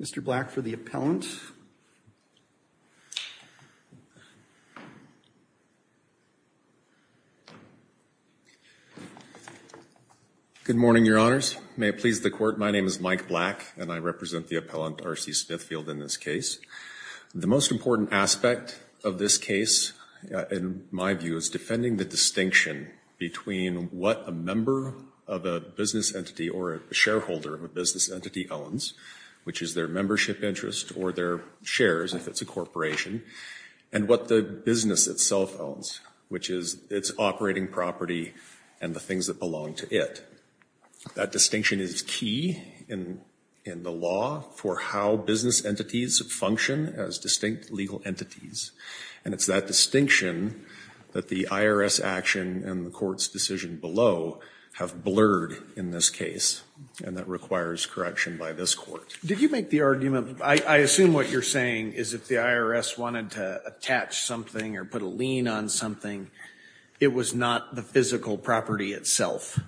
Mr. Black for the appellant. Good morning, Your Honors. May it please the Court, my name is Mike Black and I represent the appellant R.C. Smithfield in this case. The most important aspect of this case, in my view, is defending the distinction between what a member of a business entity or a shareholder of a business entity owns, which is their membership interest or their shares if it's a corporation, and what the business itself owns, which is its operating property and the things that belong to it. That distinction is key in the law for how business entities function as distinct legal entities, and it's that distinction that the IRS action and the Court's decision below have blurred in this case, and that requires correction by this Court. Did you make the argument, I assume what you're saying is if the IRS wanted to attach something or put a lien on something, it was not the physical property itself,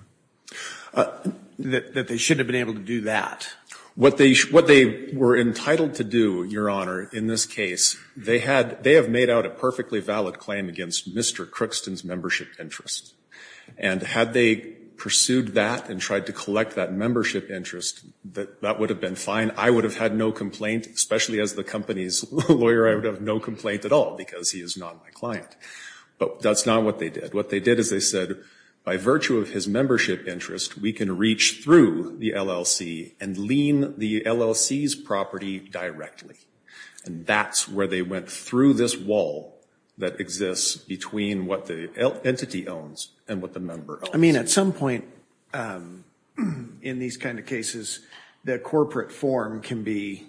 that they shouldn't have been able to do that? What they were entitled to do, Your Honor, in this case, they have made out a perfectly valid claim against Mr. Crookston's membership interest, and had they pursued that and tried to collect that membership interest, that would have been fine. I would have had no complaint, especially as the company's lawyer, I would have no complaint at all because he is not my client, but that's not what they did. What they did is they said, by virtue of his membership interest, we can reach through the LLC and lien the LLC's property directly, and that's where they went through this wall that exists between what the entity owns and what the member owns. Well, I mean, at some point in these kind of cases, the corporate form can be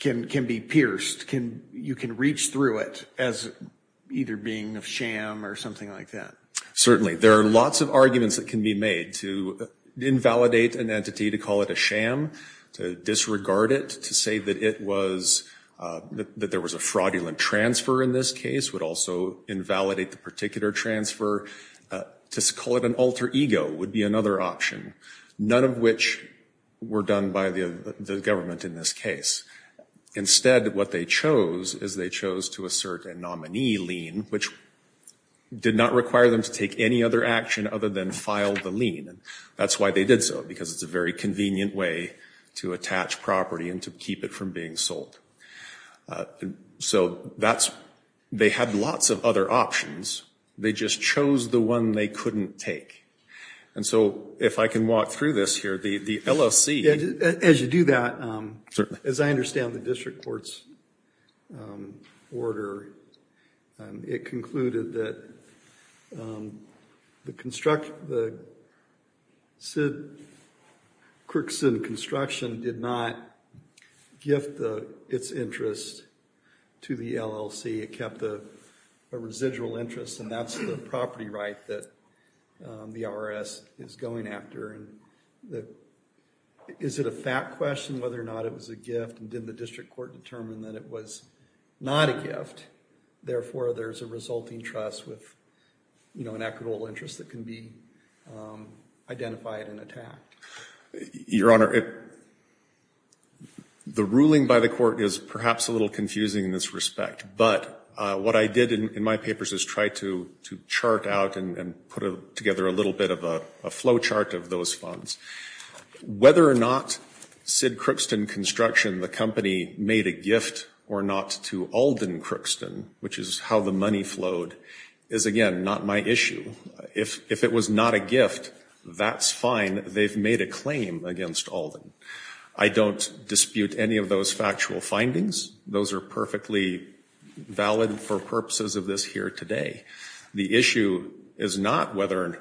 pierced, you can reach through it as either being a sham or something like that. Certainly. There are lots of arguments that can be made to invalidate an entity, to call it a sham, to disregard it, to say that there was a fraudulent transfer in this case would also invalidate the particular transfer, to call it an alter ego would be another option, none of which were done by the government in this case. Instead, what they chose is they chose to assert a nominee lien, which did not require them to take any other action other than file the lien, and that's why they did so, because it's a very convenient way to attach property and to keep it from being sold. So, that's, they had lots of other options, they just chose the one they couldn't take. And so, if I can walk through this here, the LLC. As you do that, as I understand the district court's order, it concluded that the construction, the Crikson Construction did not gift its interest to the LLC, it kept a residual interest, and that's the property right that the IRS is going after. Is it a fact question whether or not it was a gift, and did the district court determine that it was not a gift, therefore there's a resulting trust with an equitable interest that can be identified and attacked? Your Honor, the ruling by the court is perhaps a little confusing in this respect, but what I did in my papers is try to chart out and put together a little bit of a flow chart of those funds. Whether or not Sid Crikson Construction, the company, made a gift or not to Alden Crikson, which is how the money flowed, is again, not my issue. If it was not a gift, that's fine, they've made a claim against Alden. I don't dispute any of those factual findings. Those are perfectly valid for purposes of this here today. The issue is not whether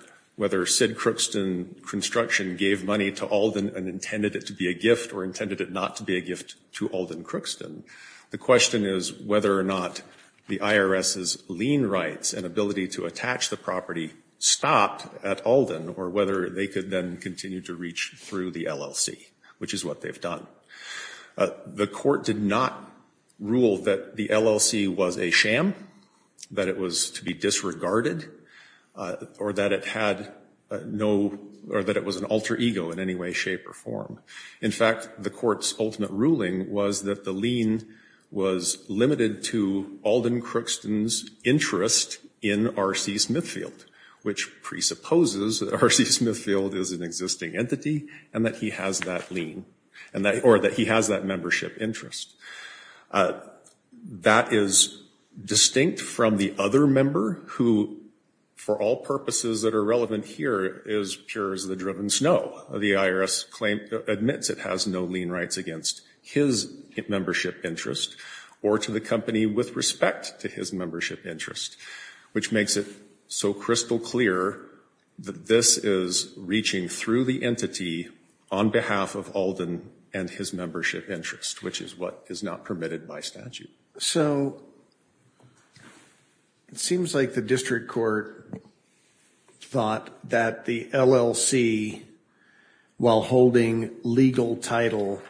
Sid Crikson Construction gave money to Alden and intended it to be a gift or intended it not to be a gift to Alden Crikson. The question is whether or not the IRS's lien rights and ability to attach the property stopped at Alden, or whether they could then continue to reach through the LLC, which is what they've done. The court did not rule that the LLC was a sham, that it was to be disregarded, or that it had no, or that it was an alter ego in any way, shape, or form. In fact, the court's ultimate ruling was that the lien was limited to Alden Crikson's interest in R.C. Smithfield, which presupposes that R.C. Smithfield is an existing entity and that he has that lien, or that he has that membership interest. That is distinct from the other member who, for all purposes that are relevant here, is the Driven Snow. The IRS admits it has no lien rights against his membership interest or to the company with respect to his membership interest, which makes it so crystal clear that this is reaching through the entity on behalf of Alden and his membership interest, which is what is not permitted by statute. So, it seems like the district court thought that the LLC, while holding legal title,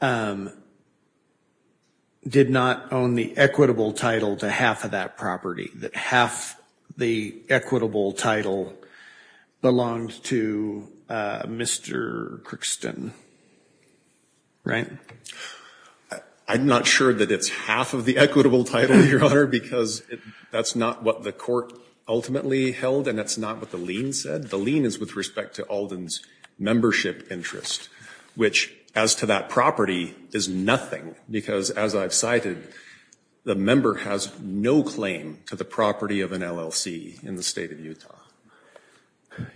did not own the equitable title to half of that property, that half the equitable title belonged to Mr. Crixton, right? I'm not sure that it's half of the equitable title, Your Honor, because that's not what the court ultimately held and that's not what the lien said. The lien is with respect to Alden's membership interest, which, as to that property, is nothing because, as I've cited, the member has no claim to the property of an LLC in the state of Utah.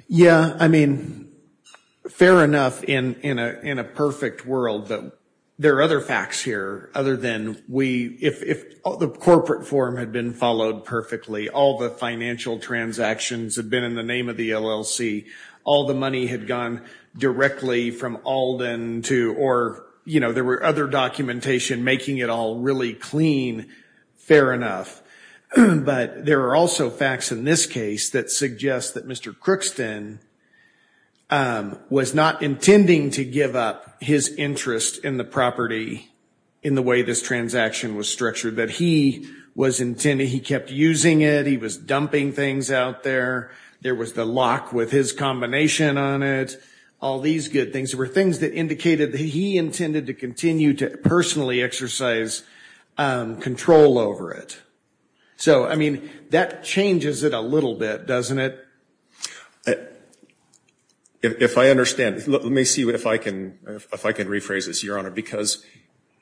Yeah, I mean, fair enough in a perfect world, but there are other facts here, other than if the corporate form had been followed perfectly, all the financial transactions had been in the name of the LLC, all the money had gone directly from Alden to, or there were other documentation making it all really clean, fair enough, but there are also facts in this case that suggest that Mr. Crixton was not intending to give up his interest in the property in the way this transaction was structured, that he was intending, he kept using it, he was dumping things out there, there was the lock with his combination on it, all these good things. There were things that indicated that he intended to continue to personally exercise control over it. So, I mean, that changes it a little bit, doesn't it? If I understand, let me see if I can rephrase this, Your Honor, because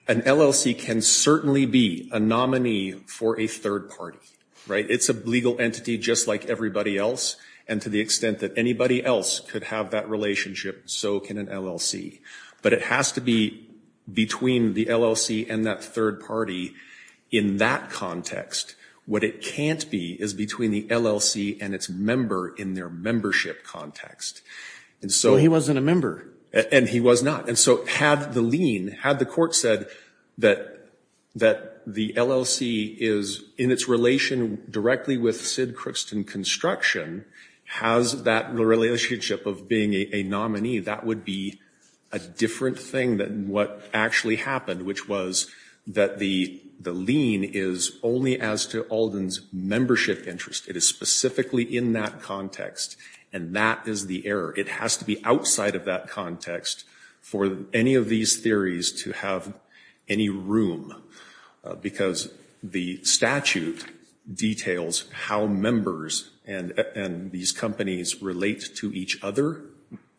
an LLC can certainly be a nominee for a third party, right? It's a legal entity just like everybody else, and to the extent that anybody else could have that relationship, so can an LLC. But it has to be between the LLC and that third party in that context. What it can't be is between the LLC and its member in their membership context. And so... Well, he wasn't a member. And he was not. And so had the lien, had the court said that the LLC is in its relation directly with Sid a different thing than what actually happened, which was that the lien is only as to Alden's membership interest. It is specifically in that context. And that is the error. It has to be outside of that context for any of these theories to have any room. Because the statute details how members and these companies relate to each other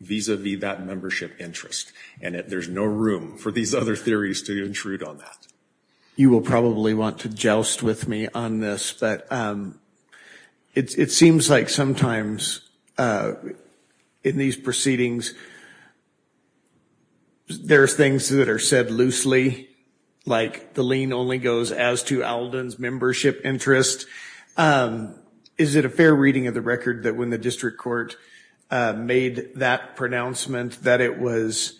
vis-a-vis that membership interest. And there's no room for these other theories to intrude on that. You will probably want to joust with me on this, but it seems like sometimes in these proceedings there's things that are said loosely, like the lien only goes as to Alden's membership interest. Is it a fair reading of the record that when the district court made that pronouncement that it was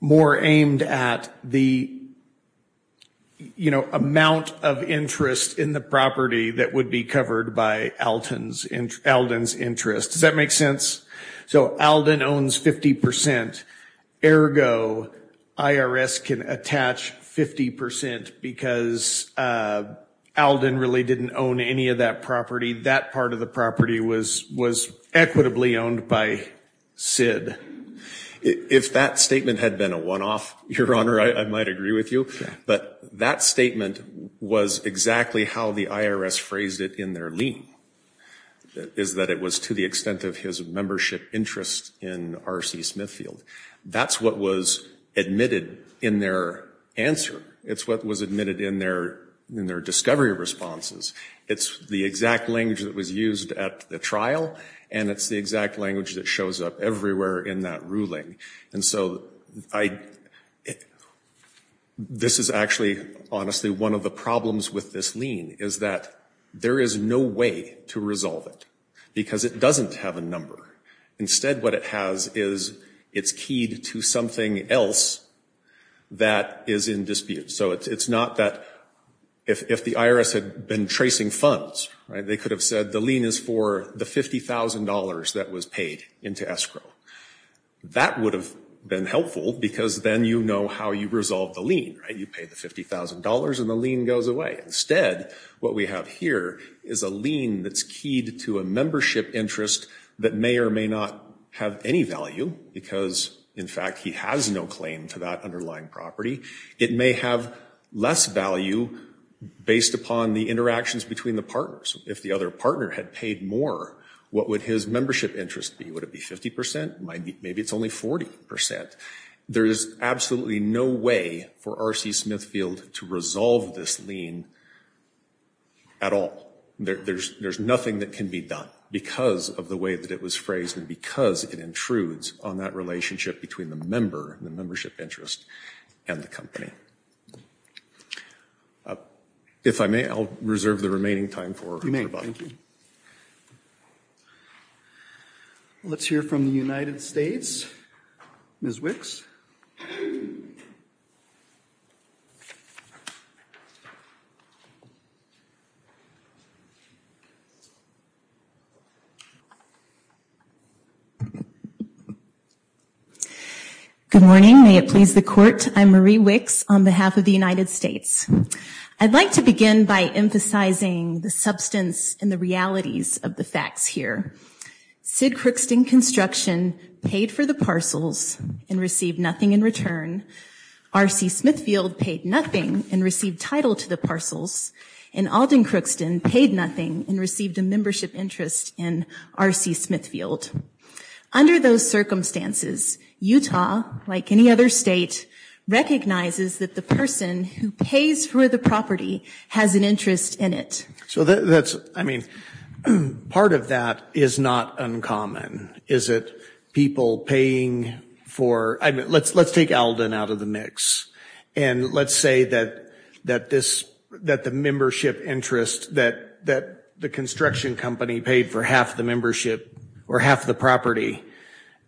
more aimed at the amount of interest in the property that would be covered by Alden's interest? Does that make sense? So Alden owns 50 percent, ergo IRS can attach 50 percent because Alden really didn't own any of that property. That part of the property was equitably owned by Sid. If that statement had been a one-off, Your Honor, I might agree with you. But that statement was exactly how the IRS phrased it in their lien, is that it was to the extent of his membership interest in R.C. Smithfield. That's what was admitted in their answer. It's what was admitted in their discovery responses. It's the exact language that was used at the trial, and it's the exact language that shows up everywhere in that ruling. And so this is actually, honestly, one of the problems with this lien is that there is no way to resolve it because it doesn't have a number. Instead what it has is it's keyed to something else that is in dispute. So it's not that if the IRS had been tracing funds, they could have said the lien is for the $50,000 that was paid into escrow. That would have been helpful because then you know how you resolve the lien, right? You pay the $50,000 and the lien goes away. Instead what we have here is a lien that's keyed to a membership interest that may or may not have any value because, in fact, he has no claim to that underlying property. It may have less value based upon the interactions between the partners. If the other partner had paid more, what would his membership interest be? Would it be 50 percent? Maybe it's only 40 percent. There is absolutely no way for R.C. Smithfield to resolve this lien at all. There's nothing that can be done because of the way that it was phrased and because it intrudes on that relationship between the member, the membership interest, and the company. If I may, I'll reserve the remaining time for rebuttal. Thank you. Let's hear from the United States. Ms. Wicks. Good morning. May it please the Court. I'm Marie Wicks on behalf of the United States. I'd like to begin by emphasizing the substance and the realities of the facts here. Sid Crookston Construction paid for the parcels and received nothing in return. R.C. Smithfield paid nothing and received title to the parcels. And Alden Crookston paid nothing and received a membership interest in R.C. Smithfield. Under those circumstances, Utah, like any other state, recognizes that the person who pays for the property has an interest in it. So that's, I mean, part of that is not uncommon. Is it people paying for, I mean, let's take Alden out of the mix. And let's say that this, that the membership interest that the construction company paid for half the membership or half the property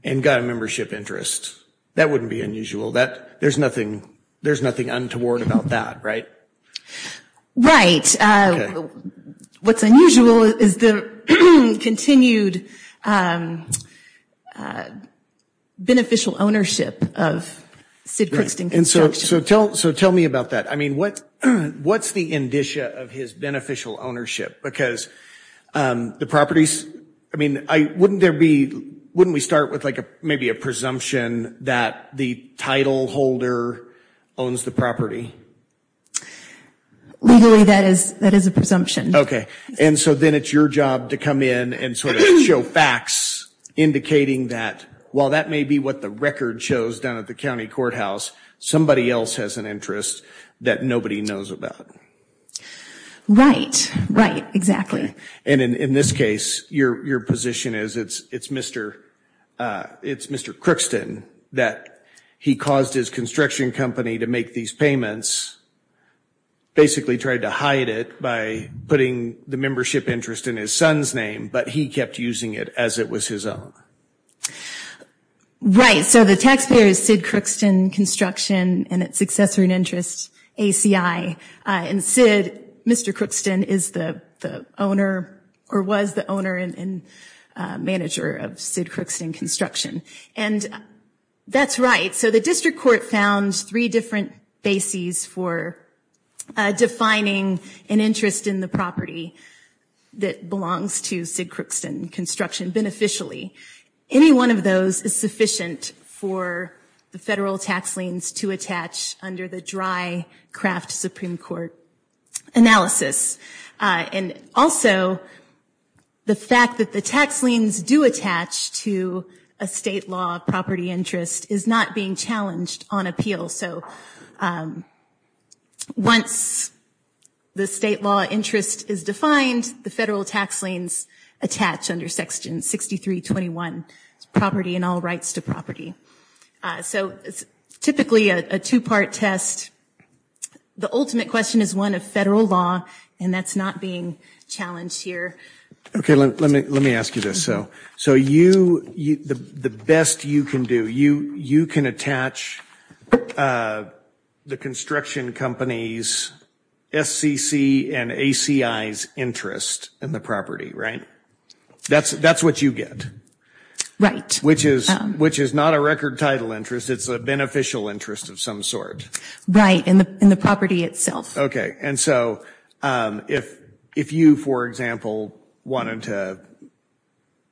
and got a membership interest. That wouldn't be unusual. That, there's nothing, there's nothing untoward about that, right? Right. What's unusual is the continued beneficial ownership of Sid Crookston Construction. And so, so tell, so tell me about that. I mean, what, what's the indicia of his beneficial ownership? Because the properties, I mean, I, wouldn't there be, wouldn't we start with like a, maybe a presumption that the title holder owns the property? Legally, that is, that is a presumption. Okay, and so then it's your job to come in and sort of show facts indicating that while that may be what the record shows down at the county courthouse, somebody else has an interest that nobody knows about. Right, right, exactly. And in this case, your, your position is it's, it's Mr. it's Mr. Crookston that he caused his construction company to make these payments, basically tried to hide it by putting the membership interest in his son's name, but he kept using it as it was his own. Right. Right, so the taxpayer is Sid Crookston Construction and its successor in interest, ACI, and Sid, Mr. Crookston, is the, the owner, or was the owner and, and manager of Sid Crookston Construction. And that's right, so the district court found three different bases for defining an interest in the property that belongs to Sid Crookston Construction beneficially. Any one of those is sufficient for the federal tax liens to attach under the dry craft Supreme Court analysis. And also, the fact that the tax liens do attach to a state law property interest is not being challenged on appeal, so once the state law interest is defined, the federal tax liens attach under section 6321, property and all rights to property. So it's typically a two-part test. The ultimate question is one of federal law, and that's not being challenged here. Okay, let me, let me ask you this. So you, the best you can do, you, you can attach the construction company's SCC and ACI's interest in the property, right? That's, that's what you get. Right. Which is, which is not a record title interest, it's a beneficial interest of some sort. Right, in the, in the property itself. Okay, and so if, if you, for example, wanted to,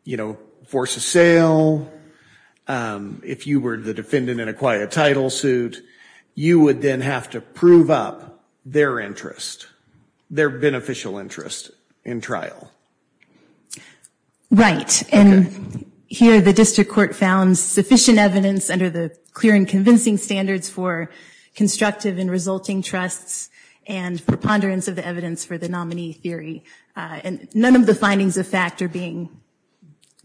you know, force a sale, if you were the defendant in a quiet title suit, you would then have to prove up their interest. Their beneficial interest in trial. Right, and here the district court found sufficient evidence under the clear and convincing standards for constructive and resulting trusts, and for ponderance of the evidence for the nominee theory, and none of the findings of fact are being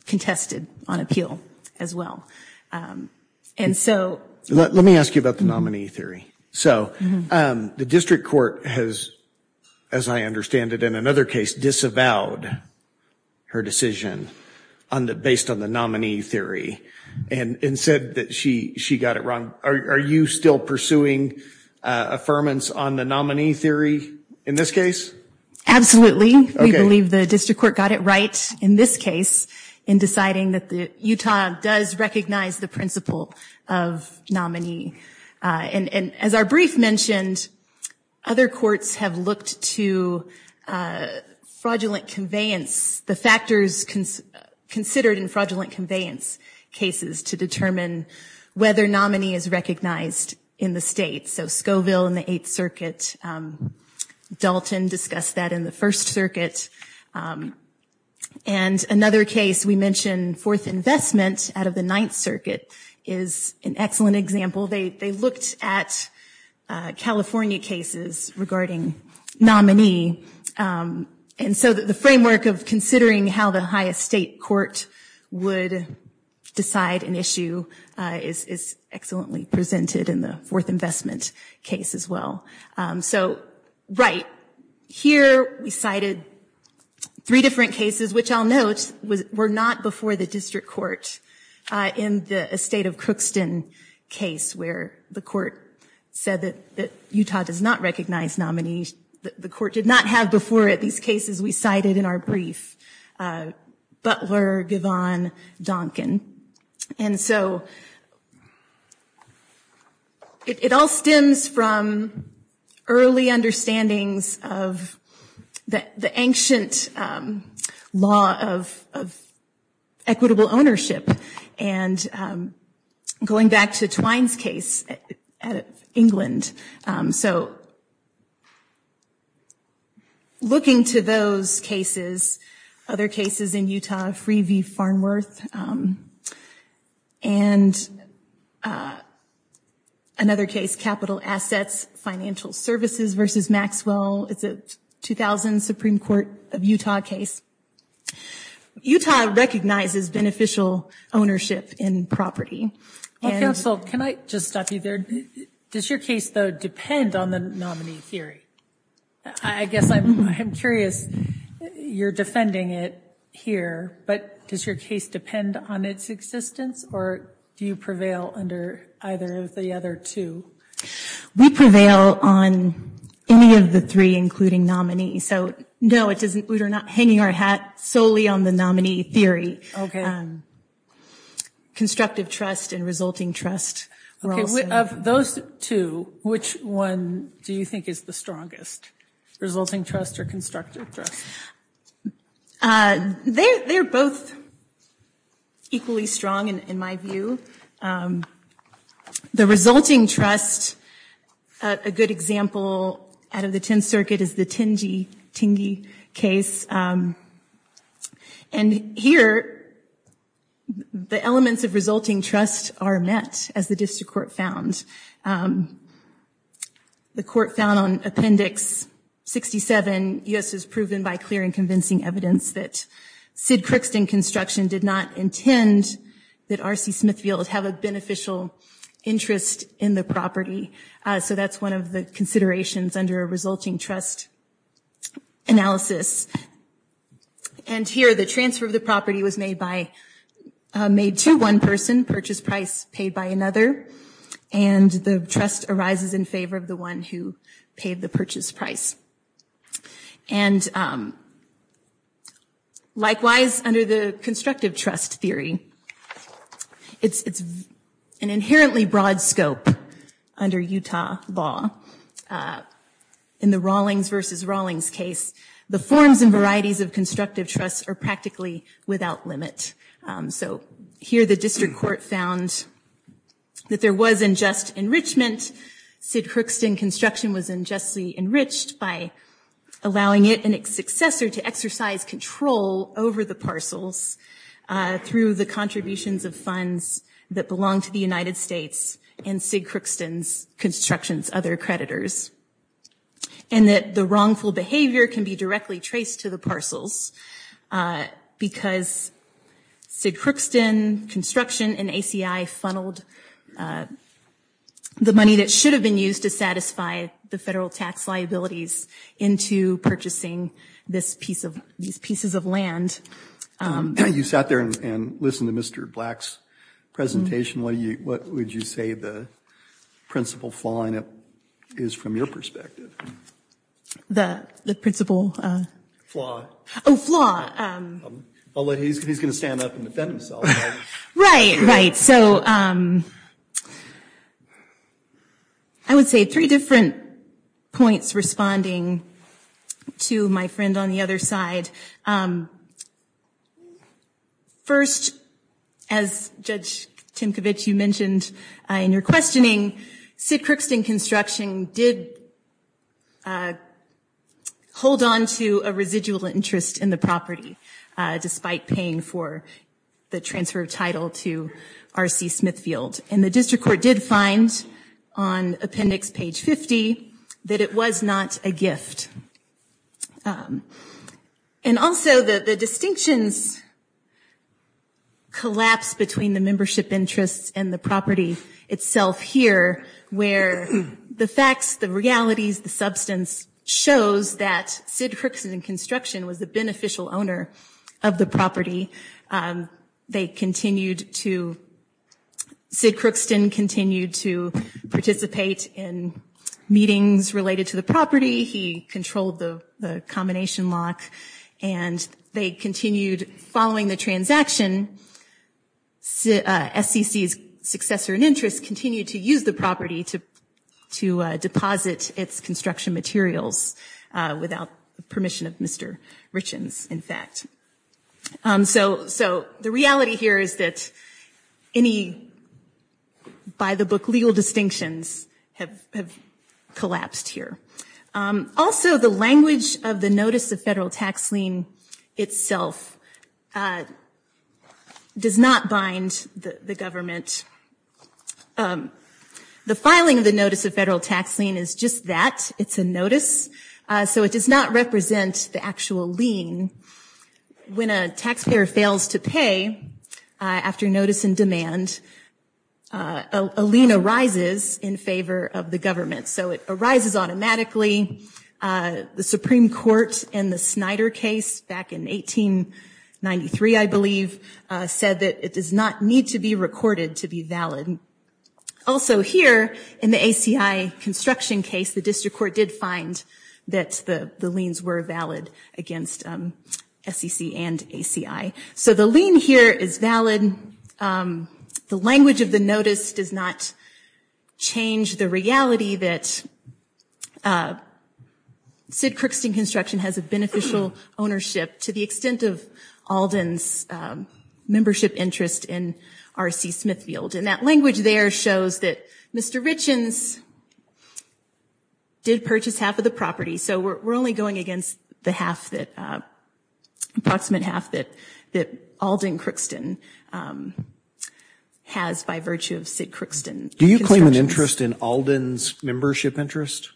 contested on appeal as well, and so. Let me ask you about the nominee theory. So, the district court has, as I understand it, in another case disavowed her decision on the, based on the nominee theory, and, and said that she, she got it wrong. Are you still pursuing affirmance on the nominee theory in this case? Absolutely. We believe the district court got it right in this case in deciding that the Utah does recognize the principle of nominee, and, and as our brief mentioned, other courts have looked to fraudulent conveyance, the factors considered in fraudulent conveyance cases to determine whether nominee is recognized in the state. So, Scoville in the Eighth Circuit, Dalton discussed that in the First Circuit, and another case we mentioned, Fourth Investment out of the Ninth Circuit is an excellent example. They, they looked at California cases regarding nominee, and so the framework of considering how the highest state court would decide an issue is, is excellently presented in the Fourth Investment case as well. So, right, here we cited three different cases, which I'll note, was, were not before the district court. In the estate of Crookston case, where the court said that, that Utah does not recognize nominee, the court did not have before it these cases we cited in our brief, Butler, Givon, Duncan. And so, it all stems from early understandings of the ancient law of, of equitable ownership. And going back to Twine's case at England, so, looking to those cases, other cases in Utah, Free v. Farnworth, and another case, Capital Assets, Financial Services v. Maxwell, it's a 2000 Supreme Court of Utah case. Utah recognizes beneficial ownership in property. Well, counsel, can I just stop you there? Does your case, though, depend on the nominee theory? I guess I'm, I'm curious, you're defending it here, but does your case depend on its existence, or do you prevail under either of the other two? We prevail on any of the three, including nominee. So, no, it doesn't, we're not hanging our hat solely on the nominee theory. Constructive trust and resulting trust. Okay, of those two, which one do you think is the strongest? Resulting trust or constructive trust? They're both equally strong, in my view. The resulting trust, a good example out of the Tenth Circuit is the Tingey case. And here, the elements of resulting trust are met, as the district court found. The court found on Appendix 67, U.S. has proven by clear and convincing evidence that Sid Crookston Construction did not intend that R.C. Smithfield have a beneficial interest in the property. So that's one of the considerations under a resulting trust analysis. And here, the transfer of the property was made by, made to one person, purchase price paid by another, and the trust arises in favor of the one who paid the purchase price. And likewise, under the constructive trust theory, it's an inherently broad scope under Utah law. In the Rawlings v. Rawlings case, the forms and varieties of constructive trust are practically without limit. So here, the district court found that there was unjust enrichment. Sid Crookston Construction was unjustly enriched by allowing it a successor to exercise control over the parcels through the contributions of funds that belong to the United States and Sid Crookston's construction's other creditors. And that the wrongful behavior can be directly traced to the parcels because Sid Crookston Construction and ACI funneled the money that should have been used to satisfy the federal tax liabilities into purchasing this piece of, these pieces of land. You sat there and listened to Mr. Black's presentation. What do you, what would you say the principal flaw in it is from your perspective? The, the principal. Oh, flaw. Although he's going to stand up and defend himself. Right, right. So, I would say three different points responding to my friend on the other side. First, as Judge Timkovich, you mentioned in your questioning, Sid Crookston Construction did hold on to a residual interest in the property, despite paying for the transfer of title to R.C. Smithfield. And the district court did find on appendix page 50 that it was not a gift. And also, the distinctions collapse between the membership interests and the property itself here, where the facts, the realities, the substance shows that Sid Crookston Construction was the beneficial owner of the property. They continued to, Sid Crookston continued to participate in meetings related to the property. He controlled the combination lock and they continued following the transaction. SCC's successor and interest continued to use the property to, to deposit its construction materials without permission of Mr. Richens, in fact. So, so the reality here is that any, by the book, legal distinctions have collapsed here. Also, the language of the notice of federal tax lien itself does not bind the government. The filing of the notice of federal tax lien is just that, it's a notice. So it does not represent the actual lien. When a taxpayer fails to pay after notice and demand, a lien arises in favor of the government. So it arises automatically. The Supreme Court in the Snyder case back in 1893, I believe, said that it does not need to be recorded to be valid. Also here, in the ACI construction case, the district court did find that the liens were valid against SCC and ACI. So the lien here is valid. The language of the notice does not change the reality that Sid Crookston Construction has a beneficial ownership to the extent of Alden's membership interest in R.C. Smithfield. And that language there shows that Mr. Richens did purchase half of the property. So we're only going against the half that, approximate half that Alden Crookston has by virtue of Sid Crookston. Do you claim an interest in Alden's membership interest?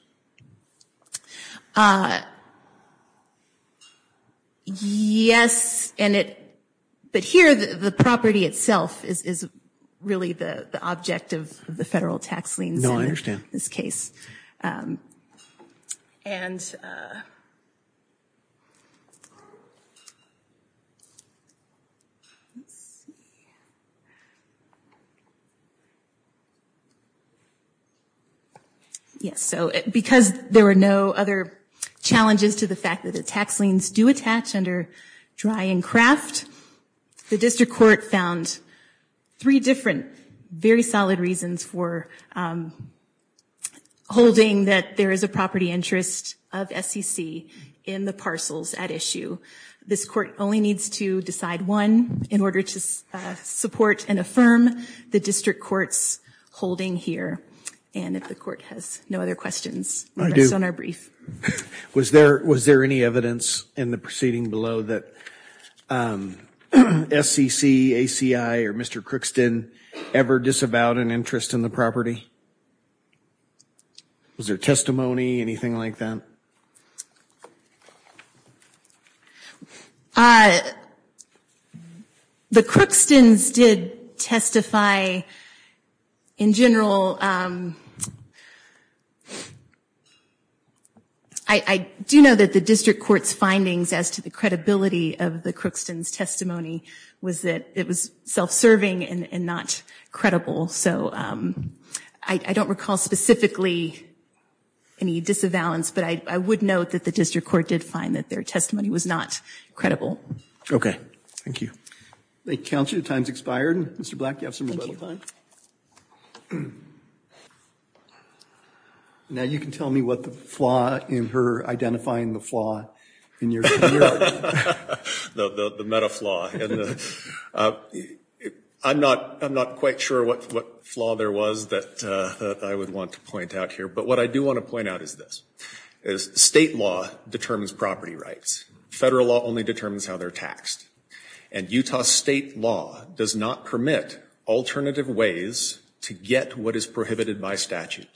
Yes, but here, the property itself is really the object of the federal tax liens in this case. And yes, so because there were no other challenges to the fact that the tax liens do attach under dry and craft, the district court found three different very solid reasons for holding that there is a property interest of SCC in the parcels at issue. This court only needs to decide one in order to support and affirm the district court's holding here. And if the court has no other questions on our brief. Was there any evidence in the proceeding below that SCC, ACI, or Mr. Crookston ever disavowed an interest in the property? Was there testimony, anything like that? The Crookstons did testify in general. I do know that the district court's findings as to the credibility of the Crookston's testimony was that it was self-serving and not credible. So I don't recall specifically any disavowal, but I would note that the district court did find that their testimony was not credible. Okay, thank you. Thank you counsel, your time's expired. Mr. Black, you have some more time. Now you can tell me what the flaw in her identifying the flaw in your. The meta flaw, I'm not quite sure what flaw there was that I would want to point out here. But what I do want to point out is this, is state law determines property rights, federal law only determines how they're taxed. And Utah state law does not permit alternative ways to get what is prohibited by statute.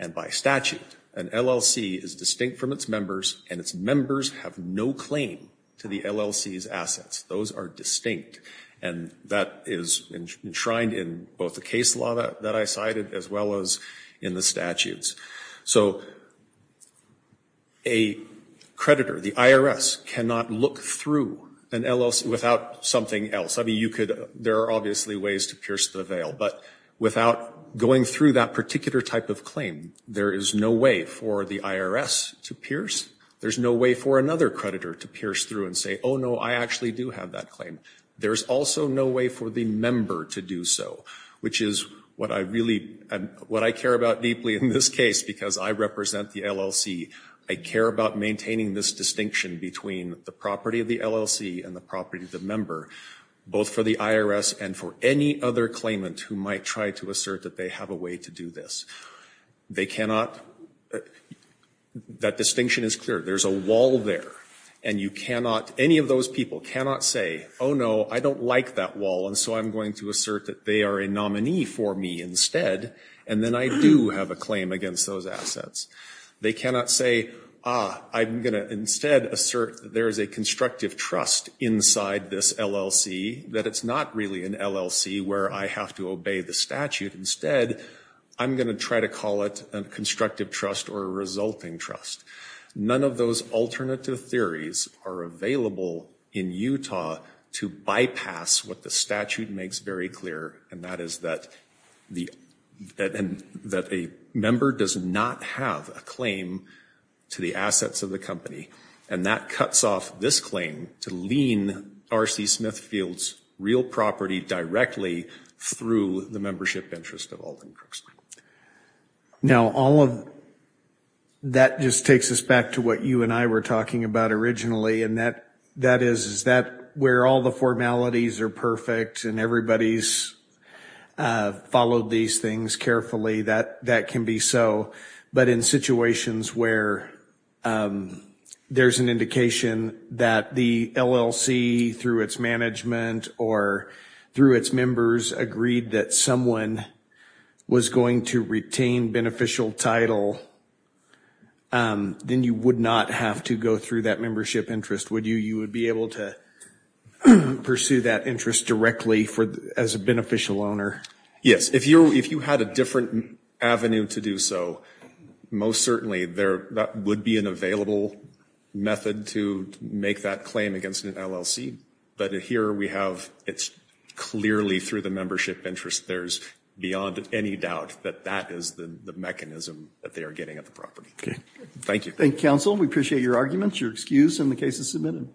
And by statute, an LLC is distinct from its members and its members have no claim to the LLC's assets. Those are distinct and that is enshrined in both the case law that I cited as well as in the statutes. So a creditor, the IRS, cannot look through an LLC without something else. I mean, you could, there are obviously ways to pierce the veil, but without going through that particular type of claim, there is no way for the IRS to pierce. There's no way for another creditor to pierce through and say, oh, no, I actually do have that claim. There's also no way for the member to do so, which is what I really, what I care about deeply in this case, because I represent the LLC. I care about maintaining this distinction between the property of the LLC and the property of the member, both for the IRS and for any other claimant who might try to assert that they have a way to do this. They cannot, that distinction is clear. There's a wall there and you cannot, any of those people cannot say, oh, no, I don't like that wall and so I'm going to assert that they are a nominee for me instead. And then I do have a claim against those assets. They cannot say, ah, I'm going to instead assert that there is a constructive trust inside this LLC, that it's not really an LLC where I have to obey the statute. Instead, I'm going to try to call it a constructive trust or a resulting trust. None of those alternative theories are available in Utah to bypass what the statute makes very clear, and that is that a member does not have a claim to the assets of the company. And that cuts off this claim to lean R.C. Smithfield's real property directly through the membership interest of Alden Crooks. Now, all of that just takes us back to what you and I were talking about originally, and that that is that where all the formalities are perfect and everybody's followed these things carefully, that that can be so. But in situations where there's an indication that the LLC, through its management or through its members, agreed that someone was going to retain beneficial title, then you would not have to go through that membership interest. Would you? You would be able to pursue that interest directly as a beneficial owner? Yes, if you if you had a different avenue to do so, most certainly there would be an available method to make that claim against an LLC. But here we have it's clearly through the membership interest. There's beyond any doubt that that is the mechanism that they are getting at the property. Thank you. Thank you, counsel. We appreciate your arguments. Your excuse in the case is submitted.